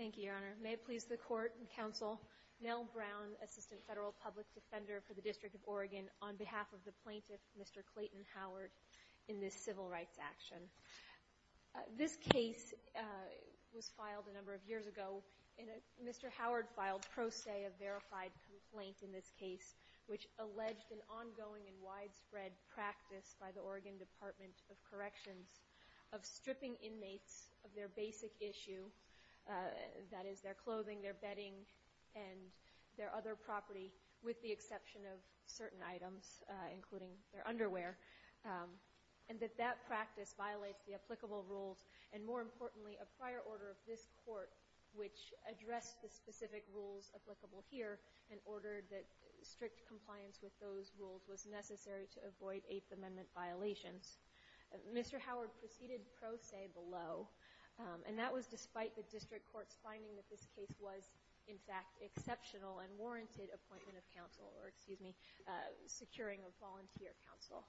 Thank you, Your Honor. May it please the Court and Counsel, Nell Brown, Assistant Federal Public Defender for the District of Oregon, on behalf of the plaintiff, Mr. Clayton Howard, in this civil rights action. This case was filed a number of years ago, and Mr. Howard filed pro se a verified complaint in this case, which alleged an ongoing and widespread practice by the Oregon Department of Corrections of stripping inmates of their basic issue, that is, their clothing, their bedding, and their other property, with the exception of certain items, including their underwear, and that that practice violates the applicable rules, and more importantly, a prior order of this Court which addressed the specific rules applicable here and ordered that strict compliance with those rules was necessary to avoid Eighth Amendment violations. Mr. Howard proceeded pro se below, and that was despite the district court's finding that this case was, in fact, exceptional and warranted appointment of counsel or, excuse me, securing of volunteer counsel.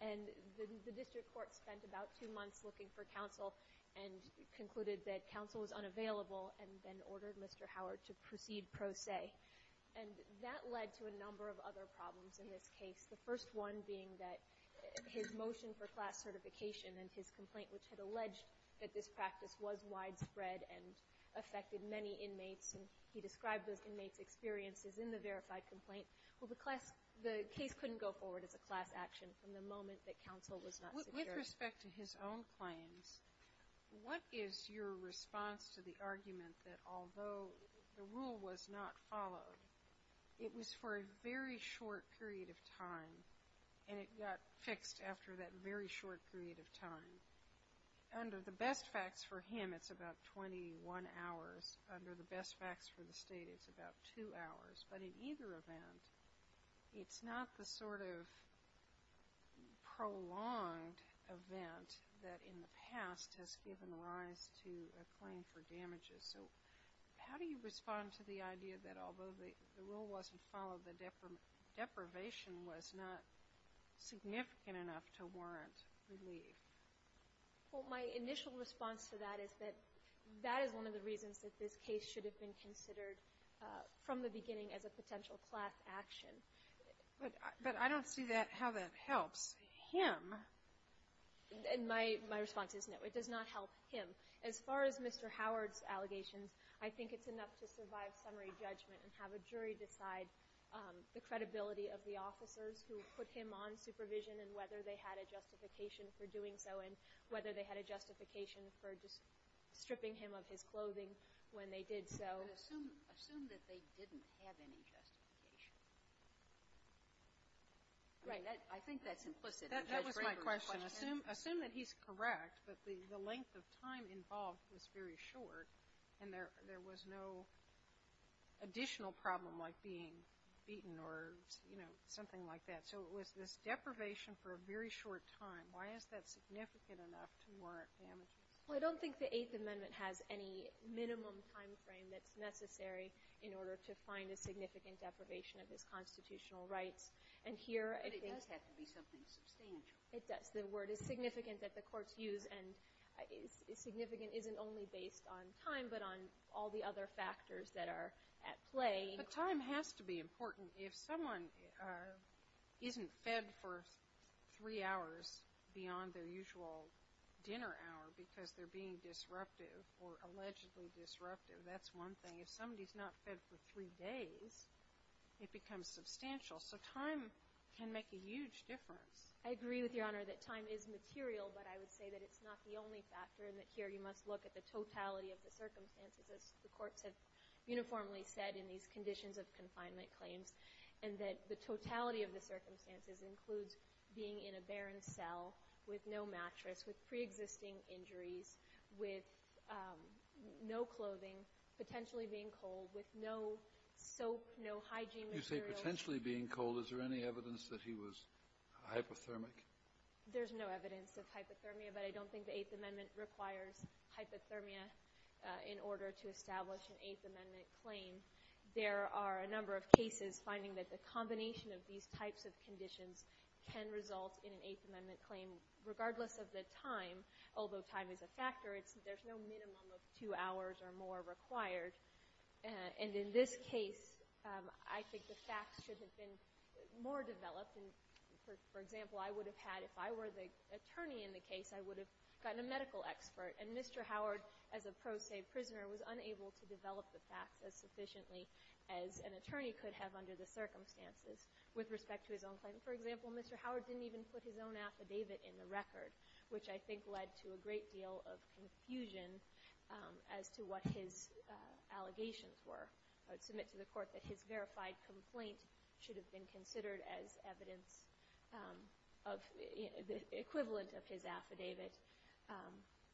And the district court spent about two months looking for counsel and concluded that counsel was unavailable and then ordered Mr. Howard to proceed pro se. And that led to a number of other problems in this case, the first one being that his motion for class certification and his complaint which had alleged that this practice was widespread and affected many inmates, and he described those inmates' experiences in the verified complaint. Well, the class – the case couldn't go forward as a class action from the moment that counsel was not secured. With respect to his own claims, what is your response to the argument that although the rule was not followed, it was for a very short period of time and it got fixed after that very short period of time? Under the best facts for him, it's about 21 hours. Under the best facts for the State, it's about two hours. But in either event, it's not the sort of prolonged event that in the past has given rise to a claim for damages. So how do you respond to the idea that although the rule wasn't followed, the deprivation was not significant enough to warrant relief? Well, my initial response to that is that that is one of the reasons that this case should have been considered from the beginning as a potential class action. But I don't see how that helps him. My response is no. It does not help him. As far as Mr. Howard's allegations, I think it's enough to survive summary judgment and have a jury decide the credibility of the officers who put him on supervision and whether they had a justification for doing so and whether they had a justification for just stripping him of his clothing when they did so. But assume that they didn't have any justification. Right. I think that's implicit. That was my question. Assume that he's correct, but the length of time involved was very short, and there was no additional problem like being beaten or, you know, something like that. So it was this deprivation for a very short time. Why is that significant enough to warrant damages? Well, I don't think the Eighth Amendment has any minimum timeframe that's necessary in order to find a significant deprivation of his constitutional rights. But it does have to be something substantial. It does. The word is significant that the courts use, and significant isn't only based on time but on all the other factors that are at play. But time has to be important. If someone isn't fed for three hours beyond their usual dinner hour because they're being disruptive or allegedly disruptive, that's one thing. If somebody's not fed for three days, it becomes substantial. So time can make a huge difference. I agree with Your Honor that time is material, but I would say that it's not the only factor and that here you must look at the totality of the circumstances. As the courts have uniformly said in these conditions of confinement claims and that the totality of the circumstances includes being in a barren cell with no mattress, with preexisting injuries, with no clothing, potentially being cold, with no soap, no hygiene materials. You say potentially being cold. Is there any evidence that he was hypothermic? There's no evidence of hypothermia, but I don't think the Eighth Amendment requires hypothermia in order to establish an Eighth Amendment claim. There are a number of cases finding that the combination of these types of conditions can result in an Eighth Amendment claim regardless of the time, although time is a factor. There's no minimum of two hours or more required. And in this case, I think the facts should have been more developed. For example, I would have had, if I were the attorney in the case, I would have gotten a medical expert. And Mr. Howard, as a pro se prisoner, was unable to develop the facts as sufficiently as an attorney could have under the circumstances with respect to his own claim. For example, Mr. Howard didn't even put his own affidavit in the record, which I think led to a great deal of confusion as to what his allegations were. I would submit to the court that his verified complaint should have been considered as evidence of the equivalent of his affidavit.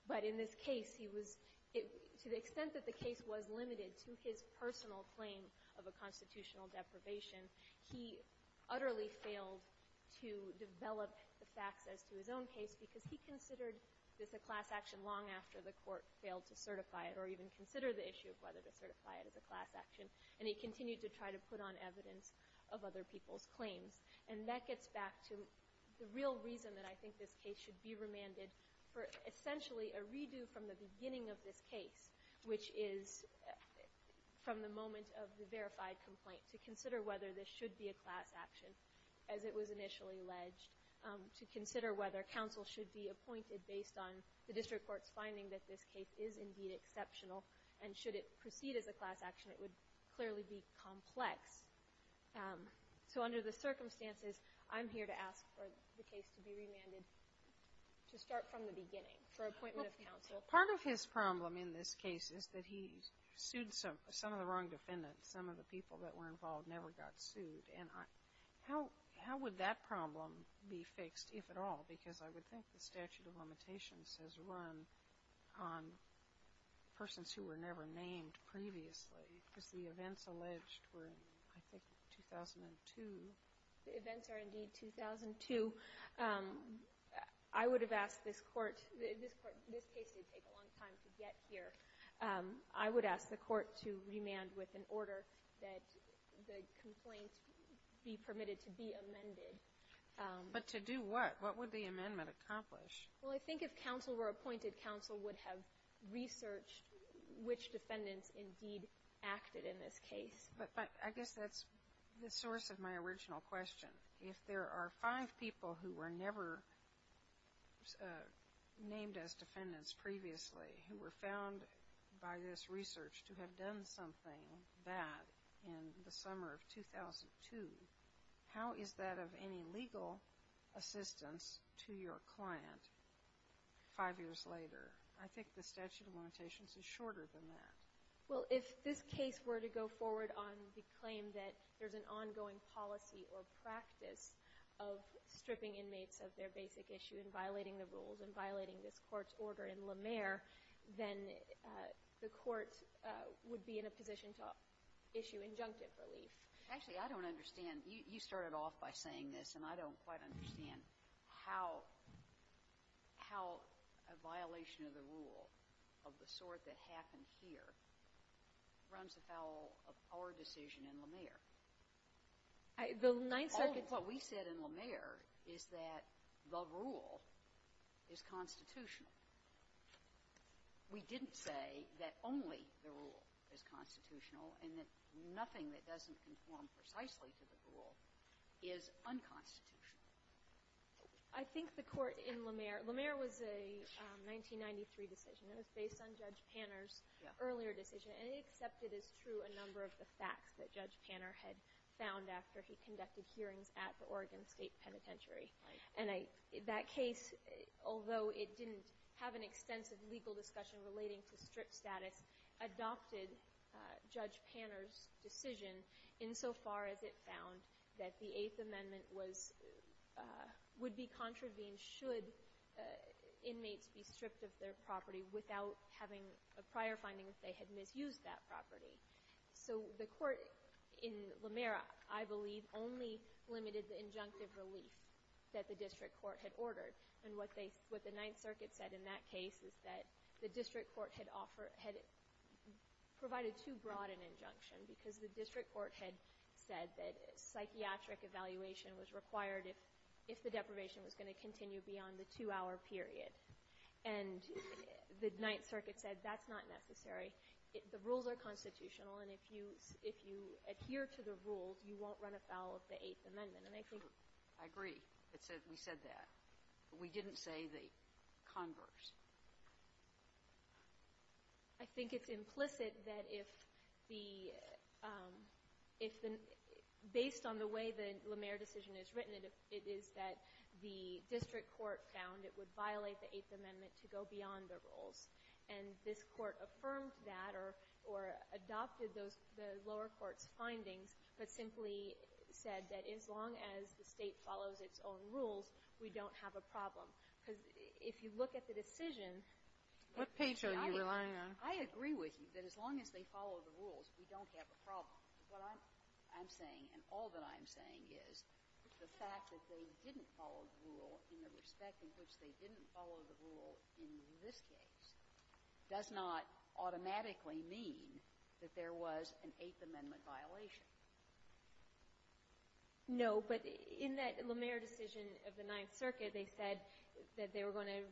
But in this case, to the extent that the case was limited to his personal claim of a constitutional deprivation, he utterly failed to develop the facts as to his own case because he considered this a class action long after the court failed to certify it as a class action, and he continued to try to put on evidence of other people's claims. And that gets back to the real reason that I think this case should be remanded for essentially a redo from the beginning of this case, which is from the moment of the verified complaint, to consider whether this should be a class action, as it was initially alleged, to consider whether counsel should be appointed based on the district court's finding that this case is indeed exceptional, and should it proceed as a class action, it would clearly be complex. So under the circumstances, I'm here to ask for the case to be remanded to start from the beginning for appointment of counsel. Part of his problem in this case is that he sued some of the wrong defendants. Some of the people that were involved never got sued. And how would that problem be fixed, if at all? Because I would think the statute of limitations has run on persons who were never named previously, because the events alleged were in, I think, 2002. The events are indeed 2002. I would have asked this court to get here. I would ask the court to remand with an order that the complaint be permitted to be amended. But to do what? What would the amendment accomplish? Well, I think if counsel were appointed, counsel would have researched which defendants indeed acted in this case. But I guess that's the source of my original question. If there are five people who were never named as defendants previously, who were found by this research to have done something bad in the summer of 2002, how is that of any legal assistance to your client five years later? I think the statute of limitations is shorter than that. Well, if this case were to go forward on the claim that there's an ongoing policy or practice of stripping inmates of their basic issue and violating the rules and violating this court's order in La Mer, then the court would be in a position to issue injunctive relief. Actually, I don't understand. You started off by saying this, and I don't quite understand how a violation of the rule of the sort that happened here runs afoul of our decision in La Mer. The ninth circuit's rule. What we said in La Mer is that the rule is constitutional. We didn't say that only the rule is constitutional and that nothing that doesn't conform precisely to the rule is unconstitutional. I think the court in La Mer, La Mer was a 1993 decision. It was based on Judge Panner's earlier decision, and it accepted as true a number of the facts that Judge Panner had found after he conducted hearings at the Oregon State Penitentiary. Right. And that case, although it didn't have an extensive legal discussion relating to strip status, adopted Judge Panner's decision insofar as it found that the Eighth Amendment would be contravened should inmates be stripped of their property without having a prior finding that they had misused that property. So the court in La Mer, I believe, only limited the injunctive relief that the district court had ordered. And what the Ninth Circuit said in that case is that the district court had provided too broad an injunction because the district court had said that psychiatric evaluation was required if the deprivation was going to continue beyond the two-hour period. And the Ninth Circuit said that's not necessary. The rules are constitutional, and if you adhere to the rules, you won't run afoul of the Eighth Amendment. And I think that's true. I agree. We said that. We didn't say the converse. I think it's implicit that if the — if the — based on the way the La Mer decision is written, it is that the district court found it would violate the Eighth Amendment to go beyond the rules. And this Court affirmed that or adopted those — the lower court's findings, but simply said that as long as the State follows its own rules, we don't have a problem. Because if you look at the decision — What page are you relying on? I agree with you that as long as they follow the rules, we don't have a problem. What I'm saying and all that I'm saying is the fact that they didn't follow the rule in the respect in which they didn't follow the rule in this case does not automatically mean that there was an Eighth Amendment violation. No. But in that La Mer decision of the Ninth Circuit, they said that they were going to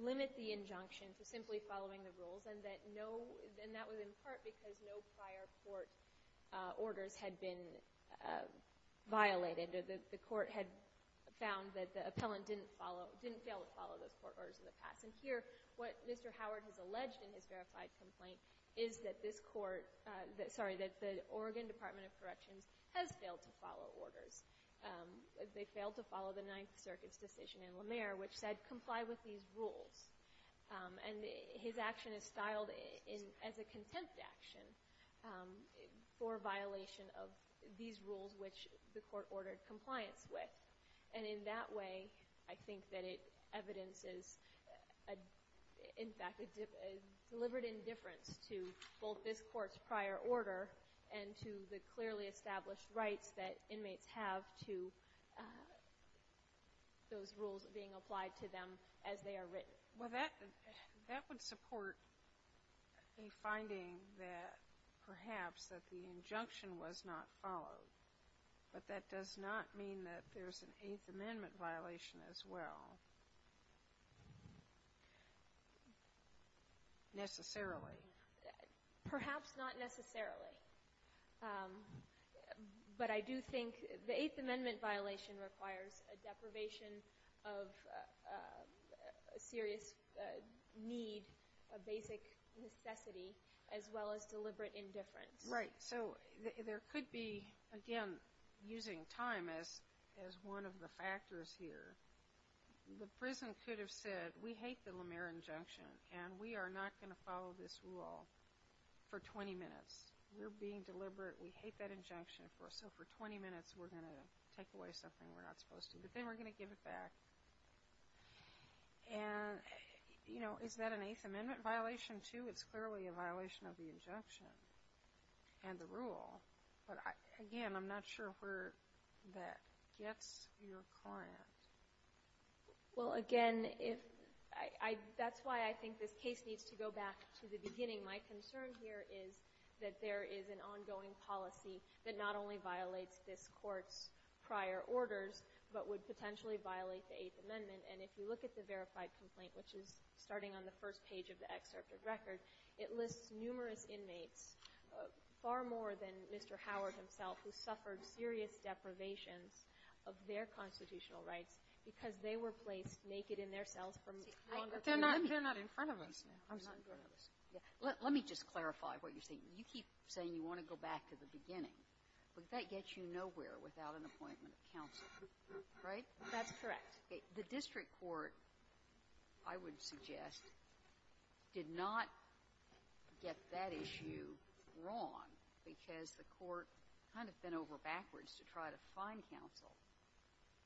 limit the injunction to simply following the rules and that no — and that was in part because no prior court orders had been violated. The Court had found that the appellant didn't follow — didn't fail to follow those court orders in the past. And here, what Mr. Howard has alleged in his verified complaint is that this Court — sorry, that the Oregon Department of Corrections has failed to follow orders. They failed to follow the Ninth Circuit's decision in La Mer which said comply with these rules. And his action is styled as a contempt action for violation of these rules which the Court has ordered compliance with. And in that way, I think that it evidences, in fact, a deliberate indifference to both this Court's prior order and to the clearly established rights that inmates have to those rules being applied to them as they are written. Well, that would support a finding that perhaps that the injunction was not followed. But that does not mean that there's an Eighth Amendment violation as well necessarily. Perhaps not necessarily. But I do think the Eighth Amendment violation requires a deprivation of a serious need, a basic necessity, as well as deliberate indifference. Right. So there could be, again, using time as one of the factors here. The prison could have said, we hate the La Mer injunction, and we are not going to follow this rule for 20 minutes. We're being deliberate. We hate that injunction. So for 20 minutes, we're going to take away something we're not supposed to. But then we're going to give it back. And, you know, is that an Eighth Amendment violation, too? I think it's clearly a violation of the injunction and the rule. But, again, I'm not sure where that gets your client. Well, again, that's why I think this case needs to go back to the beginning. My concern here is that there is an ongoing policy that not only violates this Court's prior orders, but would potentially violate the Eighth Amendment. And if you look at the verified complaint, which is starting on the first page of the circuit record, it lists numerous inmates, far more than Mr. Howard himself, who suffered serious deprivations of their constitutional rights because they were placed naked in their cells for longer periods. They're not in front of us now. I'm sorry. Let me just clarify what you're saying. You keep saying you want to go back to the beginning. But that gets you nowhere without an appointment of counsel, right? That's correct. But the district court, I would suggest, did not get that issue wrong because the court kind of bent over backwards to try to find counsel,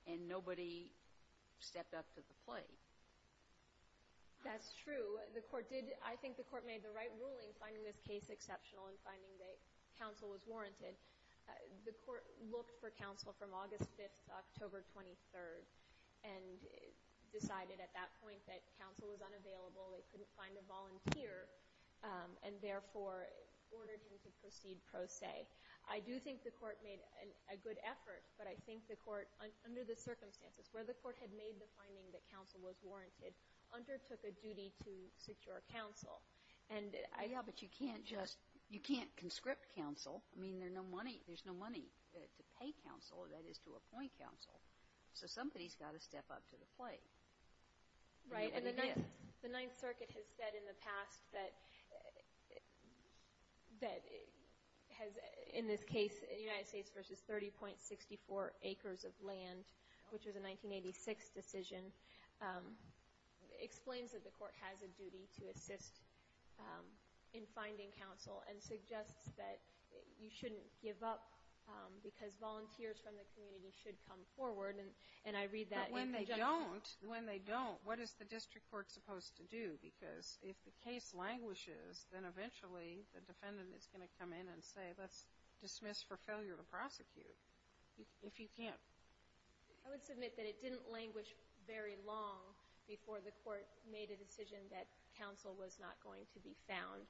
and nobody stepped up to the plate. That's true. The Court did. I think the Court made the right ruling finding this case exceptional and finding that counsel was warranted. The Court looked for counsel from August 5th to October 23rd and decided at that point that counsel was unavailable, they couldn't find a volunteer, and therefore ordered him to proceed pro se. I do think the Court made a good effort, but I think the Court, under the circumstances where the Court had made the finding that counsel was warranted, undertook a duty to secure counsel. And I have to say, you can't just, you can't conscript counsel. I mean, there's no money to pay counsel, that is, to appoint counsel. So somebody's got to step up to the plate. Right. And the Ninth Circuit has said in the past that has, in this case, United States versus 30.64 acres of land, which was a 1986 decision, explains that the Court has a you shouldn't give up because volunteers from the community should come forward. And I read that in the judgment. But when they don't, when they don't, what is the district court supposed to do? Because if the case languishes, then eventually the defendant is going to come in and say, let's dismiss for failure to prosecute, if you can't. I would submit that it didn't languish very long before the Court made a decision that counsel was not going to be found.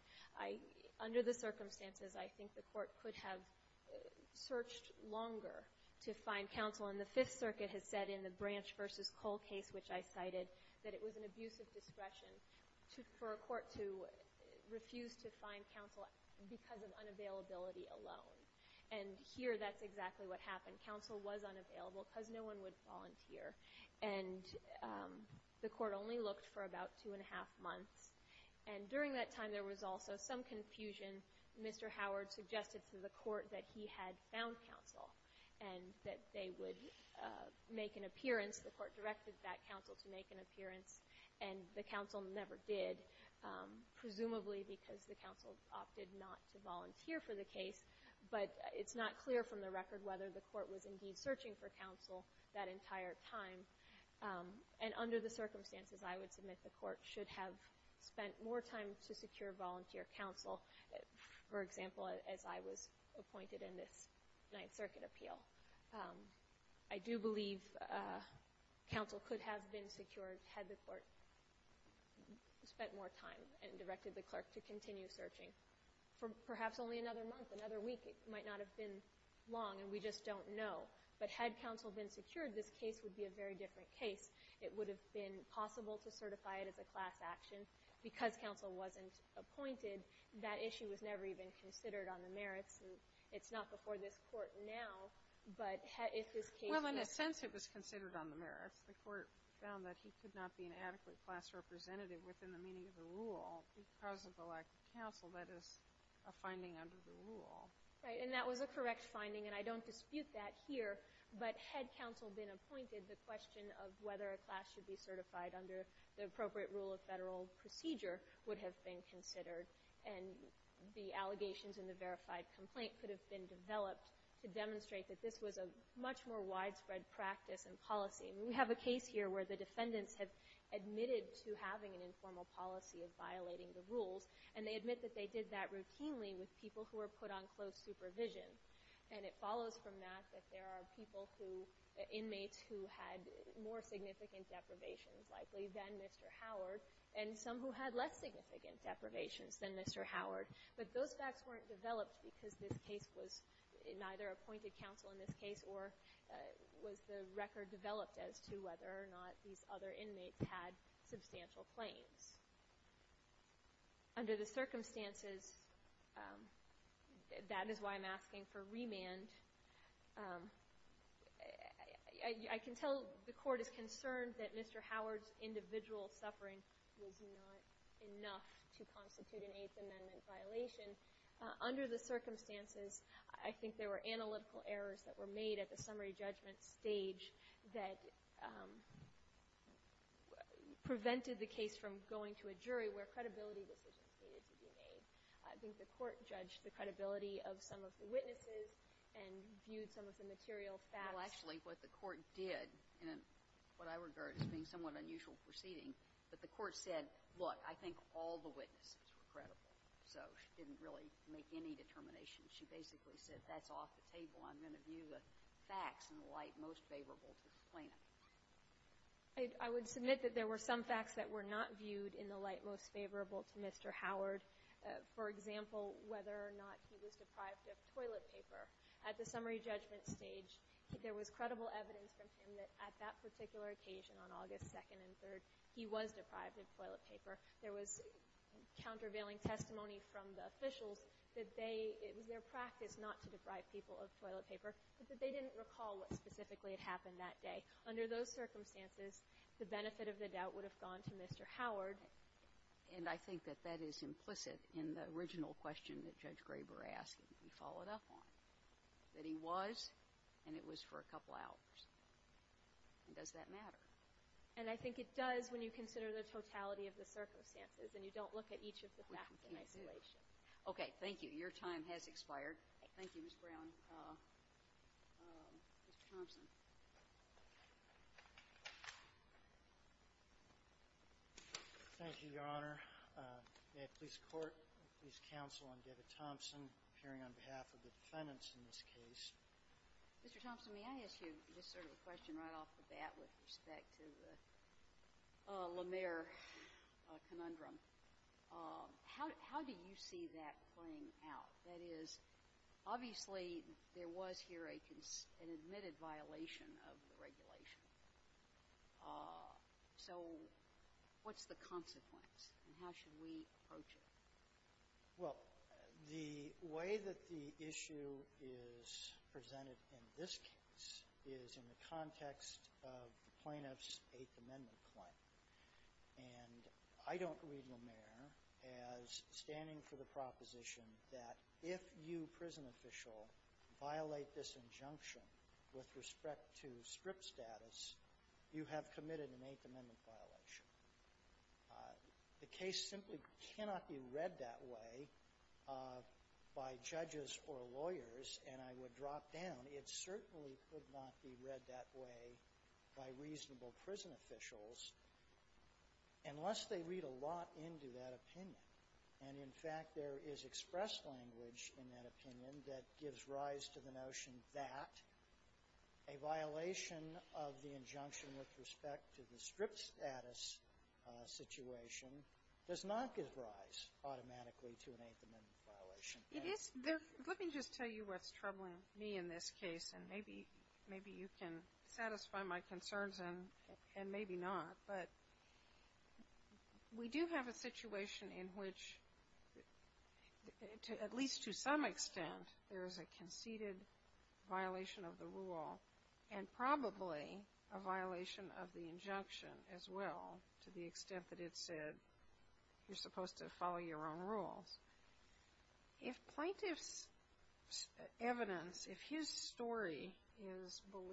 Under the circumstances, I think the Court could have searched longer to find counsel. And the Fifth Circuit has said in the Branch versus Cole case, which I cited, that it was an abuse of discretion for a court to refuse to find counsel because of unavailability alone. And here, that's exactly what happened. Counsel was unavailable because no one would volunteer. And the Court only looked for about two and a half months. And during that time, there was also some confusion. Mr. Howard suggested to the Court that he had found counsel and that they would make an appearance. The Court directed that counsel to make an appearance, and the counsel never did, presumably because the counsel opted not to volunteer for the case. But it's not clear from the record whether the Court was indeed searching for counsel that entire time. And under the circumstances, I would submit the Court should have spent more time to secure volunteer counsel, for example, as I was appointed in this Ninth Circuit appeal. I do believe counsel could have been secured had the Court spent more time and directed the clerk to continue searching for perhaps only another month, another week. It might not have been long, and we just don't know. But had counsel been secured, this case would be a very different case. It would have been possible to certify it as a class action. Because counsel wasn't appointed, that issue was never even considered on the merits. And it's not before this Court now, but if this case were to be considered. Well, in a sense, it was considered on the merits. The Court found that he could not be an adequate class representative within the meaning of the rule. Because of the lack of counsel, that is a finding under the rule. Right. And that was a correct finding. And I don't dispute that here. But had counsel been appointed, the question of whether a class should be certified under the appropriate rule of federal procedure would have been considered. And the allegations in the verified complaint could have been developed to demonstrate that this was a much more widespread practice and policy. And we have a case here where the defendants have admitted to having an informal policy of violating the rules. And they admit that they did that routinely with people who were put on close supervision. And it follows from that that there are people who, inmates, who had more significant deprivations, likely, than Mr. Howard, and some who had less significant deprivations than Mr. Howard. But those facts weren't developed because this case was neither appointed counsel in this case or was the record developed as to whether or not these other inmates had substantial claims. Under the circumstances, that is why I'm asking for remand. I can tell the Court is concerned that Mr. Howard's individual suffering was not enough to constitute an Eighth Amendment violation. Under the circumstances, I think there were analytical errors that were made at the summary where credibility decisions needed to be made. I think the Court judged the credibility of some of the witnesses and viewed some of the material facts. Well, actually, what the Court did, and what I regard as being somewhat unusual proceeding, but the Court said, look, I think all the witnesses were credible. So she didn't really make any determinations. She basically said, that's off the table. I'm going to view the facts in the light most favorable to the plaintiff. I would submit that there were some facts that were not viewed in the light most favorable to Mr. Howard. For example, whether or not he was deprived of toilet paper. At the summary judgment stage, there was credible evidence from him that at that particular occasion on August 2nd and 3rd, he was deprived of toilet paper. There was countervailing testimony from the officials that it was their practice not to deprive people of toilet paper, but that they didn't recall what specifically had happened that day. Under those circumstances, the benefit of the doubt would have gone to Mr. Howard. And I think that that is implicit in the original question that Judge Graber asked that we followed up on, that he was, and it was for a couple hours. Does that matter? And I think it does when you consider the totality of the circumstances and you don't look at each of the facts in isolation. Okay. Thank you. Your time has expired. Thank you, Ms. Brown. Mr. Thompson. Thank you, Your Honor. At police court, police counsel, I'm David Thompson, appearing on behalf of the defendants in this case. Mr. Thompson, may I ask you just sort of a question right off the bat with respect to the Lemaire conundrum? How do you see that playing out? That is, obviously, there was here an admitted violation of the regulation. So what's the consequence, and how should we approach it? Well, the way that the issue is presented in this case is in the context of the plaintiff's Eighth Amendment claim. And I don't read Lemaire as standing for the proposition that if you, prison official, violate this injunction with respect to strip status, you have committed an Eighth Amendment violation. The case simply cannot be read that way by judges or lawyers, and I would drop down. And it certainly could not be read that way by reasonable prison officials unless they read a lot into that opinion. And, in fact, there is expressed language in that opinion that gives rise to the notion that a violation of the injunction with respect to the strip status situation does not give rise automatically to an Eighth Amendment violation. Let me just tell you what's troubling me in this case, and maybe you can satisfy my concerns and maybe not, but we do have a situation in which, at least to some extent, there is a conceded violation of the rule and probably a violation of the injunction as well, to the extent that it said you're supposed to follow your own rules. If plaintiff's evidence, if his story is believed,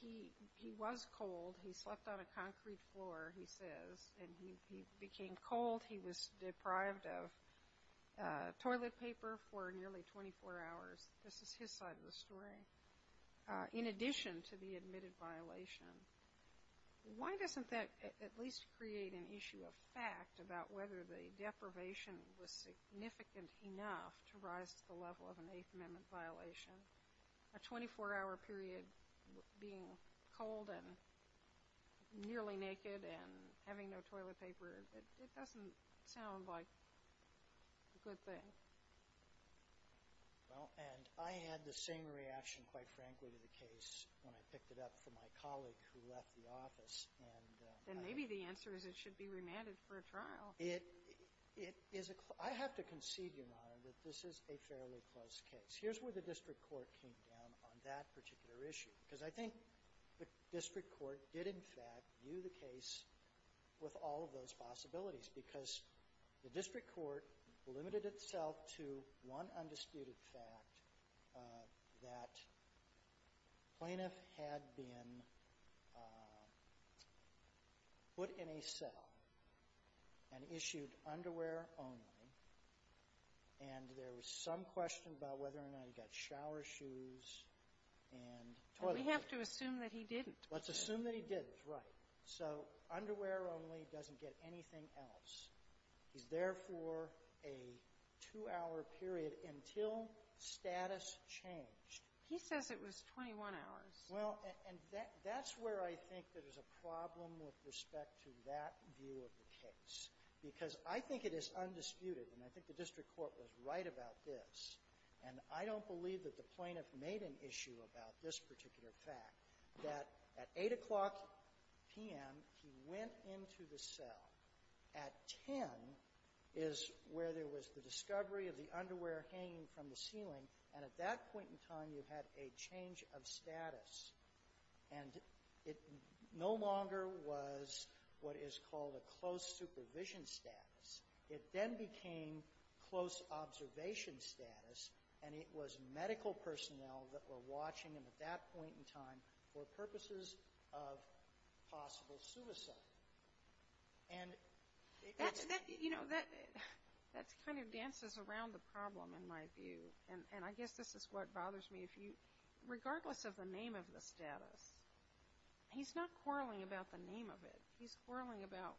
he was cold, he slept on a concrete floor, he says, and he became cold, he was deprived of toilet paper for nearly 24 hours, this is his side of the story, in addition to the admitted violation, why doesn't that at least create an issue of fact about whether the deprivation was significant enough to rise to the level of an Eighth Amendment violation? A 24-hour period being cold and nearly naked and having no toilet paper, it doesn't sound like a good thing. Well, and I had the same reaction, quite frankly, to the case when I picked it up from my colleague who left the office, and I — Then maybe the answer is it should be remanded for a trial. It is a — I have to concede, Your Honor, that this is a fairly close case. Here's where the district court came down on that particular issue, because I think the district court did, in fact, view the case with all of those possibilities because the district court limited itself to one undisputed fact, that the plaintiff had been put in a cell and issued underwear only, and there was some question about whether or not he got shower shoes and toilet paper. But we have to assume that he didn't. Let's assume that he did. He's right. So underwear only doesn't get anything else. He's there for a two-hour period until status changed. He says it was 21 hours. Well, and that's where I think there's a problem with respect to that view of the case, because I think it is undisputed, and I think the district court was right about this. And I don't believe that the plaintiff made an issue about this particular fact, that at 8 o'clock p.m., he went into the cell. At 10 is where there was the discovery of the underwear hanging from the ceiling, and at that point in time, you had a change of status. And it no longer was what is called a close supervision status, and it was medical personnel that were watching him at that point in time for purposes of possible suicide. And it was that you know, that kind of dances around the problem, in my view. And I guess this is what bothers me. Regardless of the name of the status, he's not quarreling about the name of it. He's quarreling about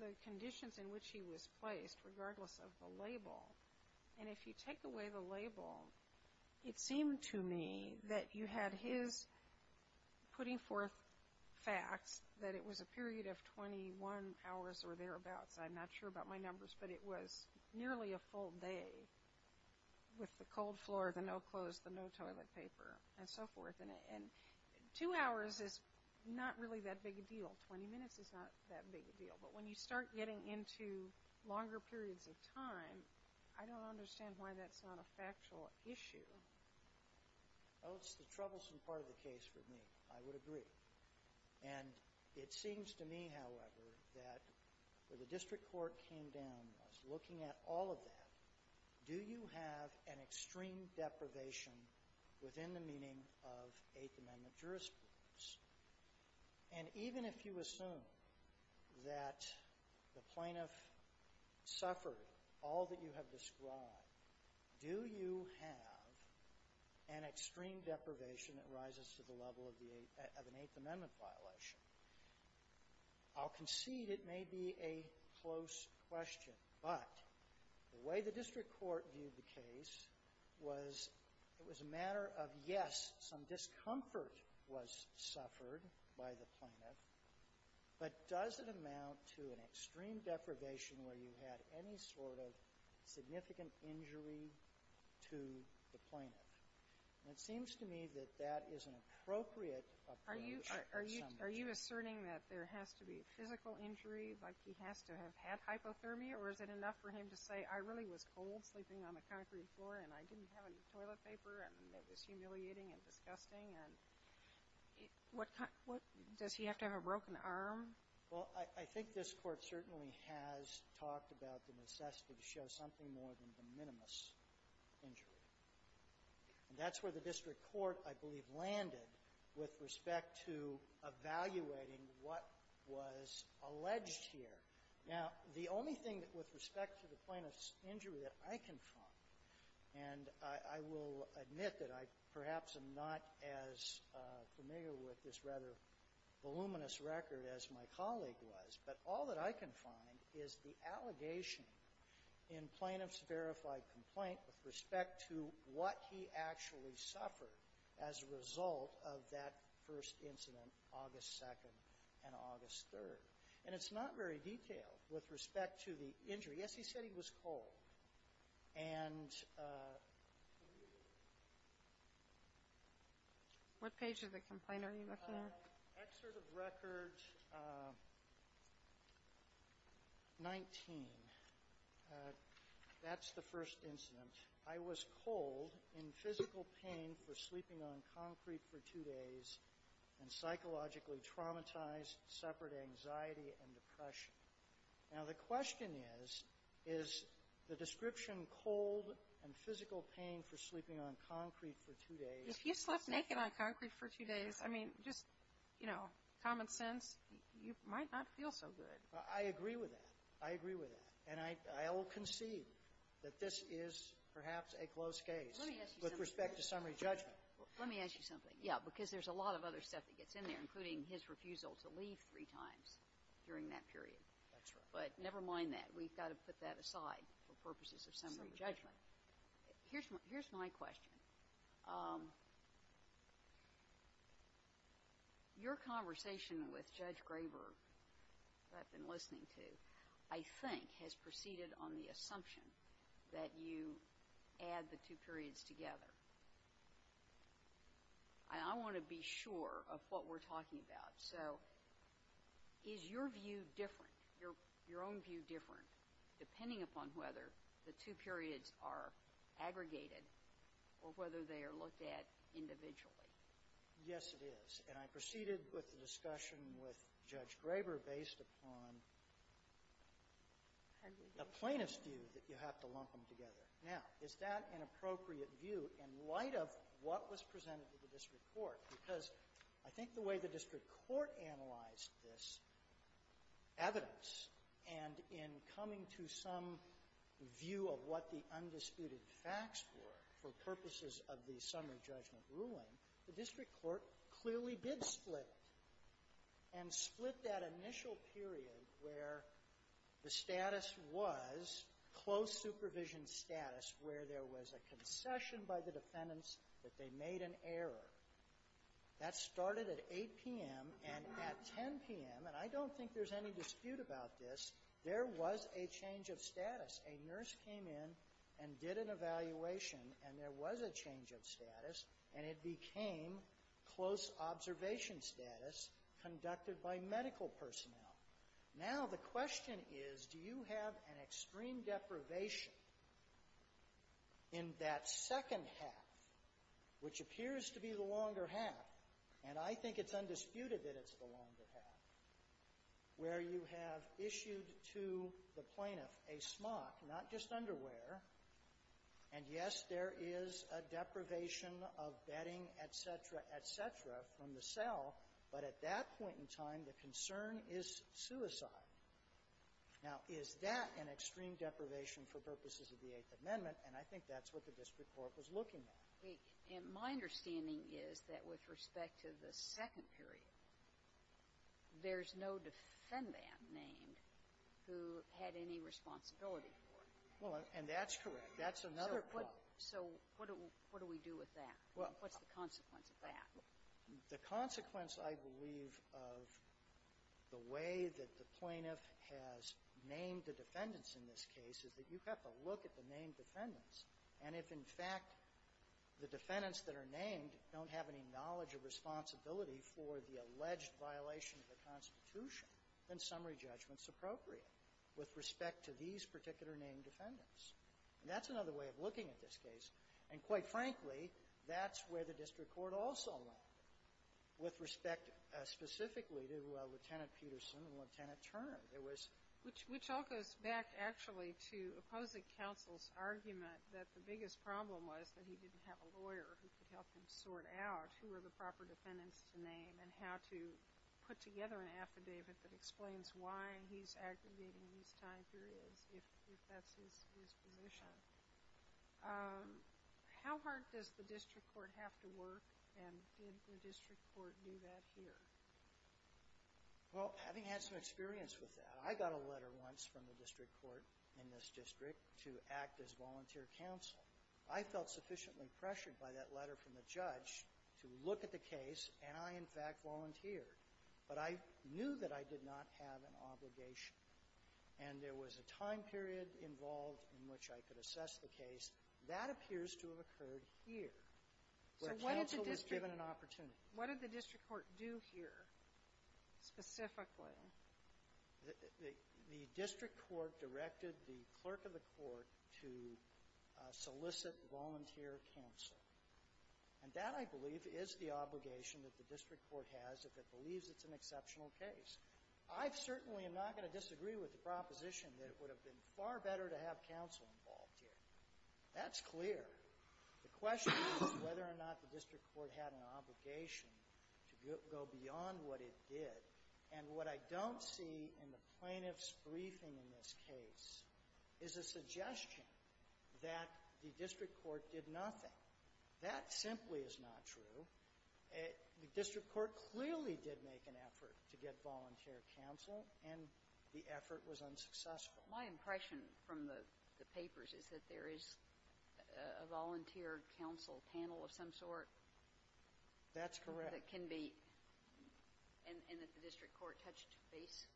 the conditions in which he was placed, regardless of the label. And if you take away the label, it seemed to me that you had his putting forth facts that it was a period of 21 hours or thereabouts. I'm not sure about my numbers, but it was nearly a full day with the cold floor, the no clothes, the no toilet paper, and so forth. And two hours is not really that big a deal. Twenty minutes is not that big a deal. But when you start getting into longer periods of time, I don't understand why that's not a factual issue. Oh, it's the troublesome part of the case for me. I would agree. And it seems to me, however, that where the district court came down was looking at all of that. Do you have an extreme deprivation within the meaning of Eighth Amendment jurisprudence? And even if you assume that the plaintiff suffered all that you have described, do you have an extreme deprivation that rises to the level of an Eighth Amendment violation? I'll concede it may be a close question, but the way the district court viewed the case was it was a matter of, yes, some discomfort was suffered by the plaintiff, but does it amount to an extreme deprivation where you had any sort of significant injury to the plaintiff? And it seems to me that that is an appropriate approach in some ways. Are you asserting that there has to be physical injury, like he has to have had hypothermia, or is it enough for him to say, I really was cold sleeping on the concrete floor and I didn't have any toilet paper, and it was humiliating and disgusting? Does he have to have a broken arm? Well, I think this Court certainly has talked about the necessity to show something more than the minimus injury. And that's where the district court, I believe, landed with respect to evaluating what was alleged here. Now, the only thing that with respect to the plaintiff's injury that I can find, and I will admit that I perhaps am not as familiar with this rather voluminous record as my colleague was, but all that I can find is the allegation in Plaintiff's verified complaint with respect to what he actually suffered as a result of that first incident, August 2nd and August 3rd. And it's not very detailed with respect to the injury. Yes, he said he was cold. And what page of the complaint are you looking at? Excerpt of record 19. That's the first incident. I was cold in physical pain for sleeping on concrete for two days and psychologically traumatized, suffered anxiety and depression. Now, the question is, is the description cold and physical pain for sleeping on concrete for two days. If you slept naked on concrete for two days, I mean, just, you know, common sense, you might not feel so good. I agree with that. I agree with that. And I will concede that this is perhaps a close case with respect to summary judgment. Let me ask you something. Yeah. Because there's a lot of other stuff that gets in there, including his refusal to leave three times during that period. That's right. But never mind that. We've got to put that aside for purposes of summary judgment. Here's my question. Your conversation with Judge Graber, who I've been listening to, I think has proceeded on the assumption that you add the two periods together. And I want to be sure of what we're talking about. So is your view different, your own view different, depending upon whether the two periods are aggregated or whether they are looked at individually? Yes, it is. And I proceeded with the discussion with Judge Graber based upon the plaintiff's view that you have to lump them together. Now, is that an appropriate view in light of what was presented to the district court? Because I think the way the district court analyzed this evidence and in coming to some view of what the undisputed facts were for purposes of the summary judgment ruling, the district court clearly did split and split that initial period where the status was close supervision status where there was a concession by the defendants that they made an error. That started at 8 p.m. and at 10 p.m. And I don't think there's any dispute about this. There was a change of status. A nurse came in and did an evaluation, and there was a change of status, and it became close observation status conducted by medical personnel. Now the question is, do you have an extreme deprivation in that second half, which you have issued to the plaintiff a smock, not just underwear, and, yes, there is a deprivation of bedding, et cetera, et cetera, from the cell, but at that point in time, the concern is suicide? Now, is that an extreme deprivation for purposes of the Eighth Amendment? And I think that's what the district court was looking at. And my understanding is that with respect to the second period, there's no defendant named who had any responsibility for it. Well, and that's correct. That's another quote. So what do we do with that? What's the consequence of that? The consequence, I believe, of the way that the plaintiff has named the defendants in this case is that you have to look at the named defendants. And if, in fact, the defendants that are named don't have any knowledge or responsibility for the alleged violation of the Constitution, then summary judgment is appropriate with respect to these particular named defendants. And that's another way of looking at this case. And quite frankly, that's where the district court also went with respect specifically to Lieutenant Peterson and Lieutenant Turner. Which all goes back, actually, to opposing counsel's argument that the biggest problem was that he didn't have a lawyer who could help him sort out who were the proper defendants to name and how to put together an affidavit that explains why he's aggravating these time periods, if that's his position. How hard does the district court have to work, and did the district court do that here? Well, having had some experience with that, I got a letter once from the district court in this district to act as volunteer counsel. I felt sufficiently pressured by that letter from the judge to look at the case, and I, in fact, volunteered. But I knew that I did not have an obligation. And there was a time period involved in which I could assess the case. That appears to have occurred here, where counsel was given an opportunity. What did the district court do here, specifically? The district court directed the clerk of the court to solicit volunteer counsel. And that, I believe, is the obligation that the district court has if it believes it's an exceptional case. I certainly am not going to disagree with the proposition that it would have been far better to have counsel involved here. That's clear. The question is whether or not the district court had an obligation to go beyond what it did. And what I don't see in the plaintiff's briefing in this case is a suggestion that the district court did nothing. That simply is not true. The district court clearly did make an effort to get volunteer counsel, and the effort was unsuccessful. Well, my impression from the papers is that there is a volunteer counsel panel of some sort. That's correct. That can be, and that the district court touched base,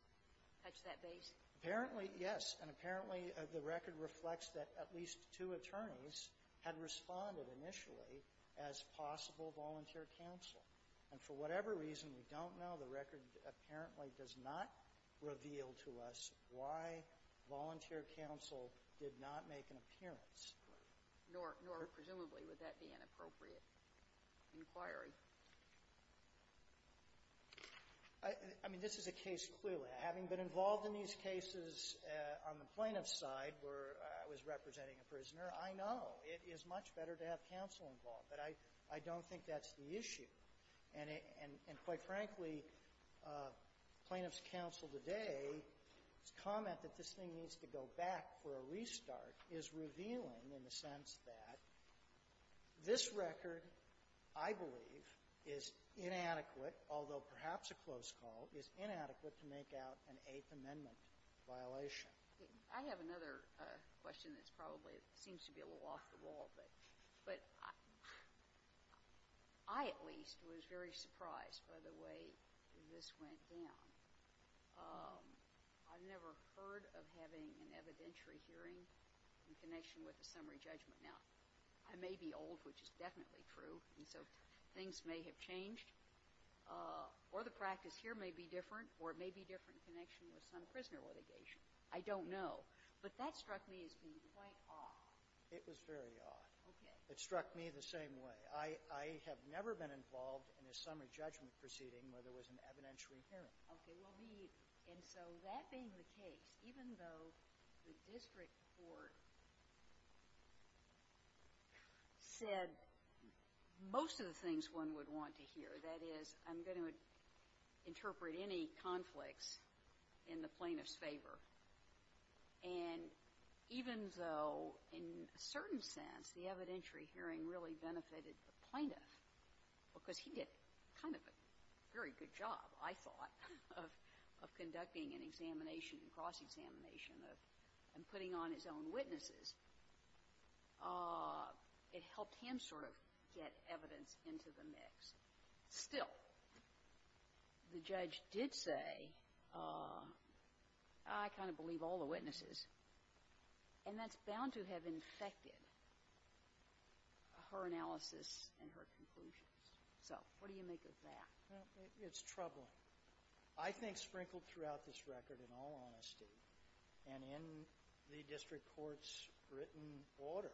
touched that base? Apparently, yes. And apparently, the record reflects that at least two attorneys had responded initially as possible volunteer counsel. And for whatever reason, we don't know. The record apparently does not reveal to us why volunteer counsel did not make an appearance. Nor presumably would that be an appropriate inquiry. I mean, this is a case clearly. Having been involved in these cases on the plaintiff's side where I was representing a prisoner, I know it is much better to have counsel involved. But I don't think that's the issue. And it — and quite frankly, plaintiff's counsel today's comment that this thing needs to go back for a restart is revealing in the sense that this record, I believe, is inadequate, although perhaps a close call, is inadequate to make out an Eighth Amendment violation. I have another question that's probably — seems to be a little off the wall, but I at least was very surprised by the way this went down. I've never heard of having an evidentiary hearing in connection with a summary judgment. Now, I may be old, which is definitely true, and so things may have changed. Or the practice here may be different, or it may be different in connection with some prisoner litigation. I don't know. But that struck me as being quite odd. It was very odd. Okay. It struck me the same way. I have never been involved in a summary judgment proceeding where there was an evidentiary hearing. Okay. Well, we — and so that being the case, even though the district court said most of the things one would want to hear, that is, I'm going to interpret any conflicts in the plaintiff's favor. And even though, in a certain sense, the evidentiary hearing really benefited the plaintiff, because he did kind of a very good job, I thought, of conducting an examination, a cross-examination, and putting on his own witnesses, it helped him sort of get evidence into the mix. Still, the judge did say, I kind of believe all the witnesses, and that's bound to have infected her analysis and her conclusions. So what do you make of that? Well, it's troubling. I think sprinkled throughout this record, in all honesty and in the district court's written order,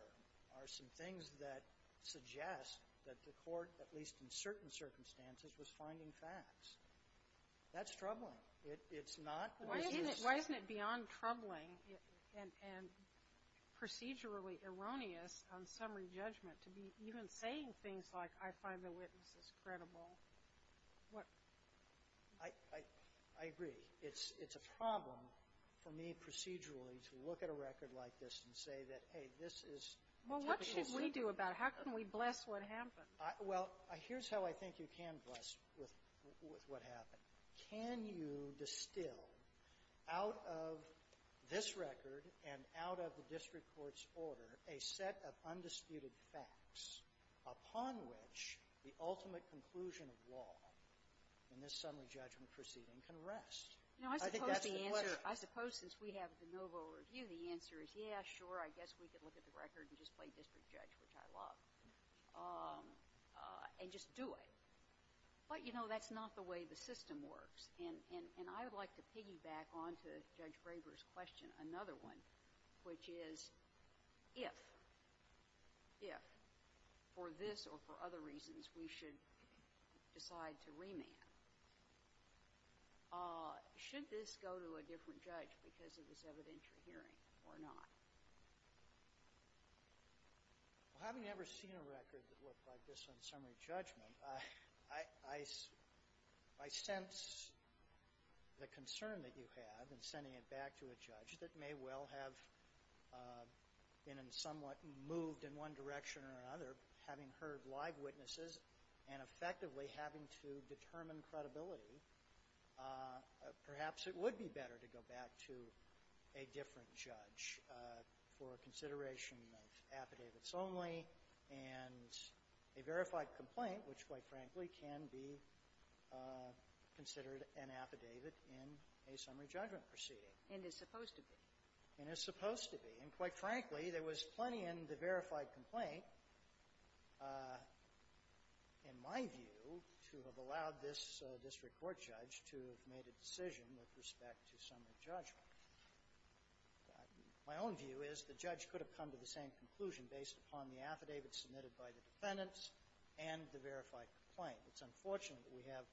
are some things that suggest that the court, at least in certain circumstances, was finding facts. That's troubling. It's not. Why isn't it beyond troubling and procedurally erroneous on summary judgment to be even saying things like, I find the witnesses credible? I agree. It's a problem for me procedurally to look at a record like this and say that, hey, this is typical. Well, what should we do about it? How can we bless what happened? Well, here's how I think you can bless with what happened. Can you distill out of this record and out of the district court's order a set of undisputed facts upon which the ultimate conclusion of law in this summary judgment proceeding can rest? I think that's the question. I suppose since we have the Novo review, the answer is, yeah, sure, I guess we can look at the record and just play district judge, which I love, and just do it. But, you know, that's not the way the system works. And I would like to piggyback on to Judge Graber's question, another one, which is, if, if, for this or for other reasons, we should decide to remand, should this go to a different judge because it was evident you're hearing or not? Well, having never seen a record that looked like this on summary judgment, I, I, I sense the concern that you have in sending it back to a judge that may well have been and somewhat moved in one direction or another, having heard live witnesses and effectively having to determine credibility, perhaps it would be better to go back to a different judge for consideration of affidavits only and a verified complaint, which, quite frankly, can be considered an affidavit in a summary judgment proceeding. And it's supposed to be. And it's supposed to be. And, quite frankly, there was plenty in the verified complaint, in my view, to have allowed this district court judge to have made a decision with respect to summary judgment. My own view is the judge could have come to the same conclusion based upon the affidavit submitted by the defendants and the verified complaint. It's unfortunate that we have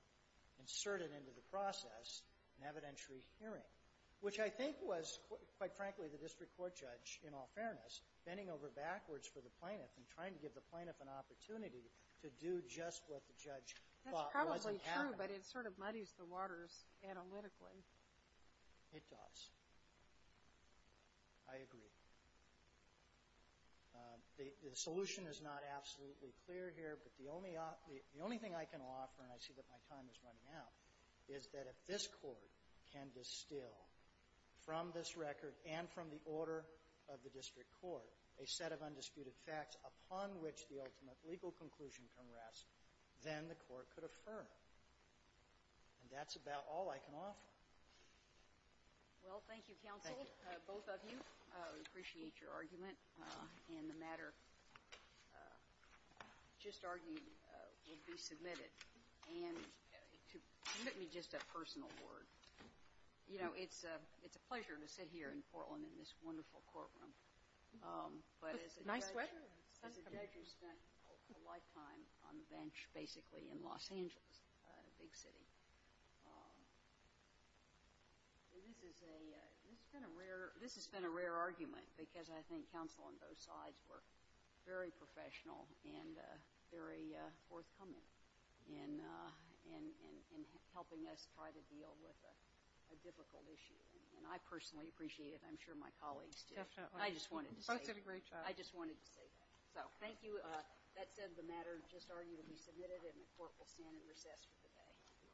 inserted into the process an evidentiary hearing, which I think was, quite frankly, the district court judge, in all fairness, bending over backwards for the plaintiff and trying to give the plaintiff an opportunity to do just what the judge thought wasn't happening. That's probably true, but it sort of muddies the waters analytically. It does. I agree. The, the solution is not absolutely clear here, but the only, the only thing I can offer, and I see that my time is running out, is that if this Court can distill from this record and from the order of the district court a set of undisputed facts upon which the ultimate legal conclusion can rest, then the Court could affirm. And that's about all I can offer. Well, thank you, counsel. Thank you. Both of you. I appreciate your argument. And the matter just argued will be submitted. And to give me just a personal word, you know, it's a pleasure to sit here in Portland in this wonderful courtroom. But as a judge who spent a lifetime on the bench basically in Los Angeles, a big city. And this is a, this has been a rare, this has been a rare argument because I think counsel on both sides were very professional and very forthcoming in, in, in, in helping us try to deal with a difficult issue. And I personally appreciate it. I'm sure my colleagues do. Definitely. I just wanted to say. You both did a great job. I just wanted to say that. So, thank you. That said, the matter just argued will be submitted and the Court will stand in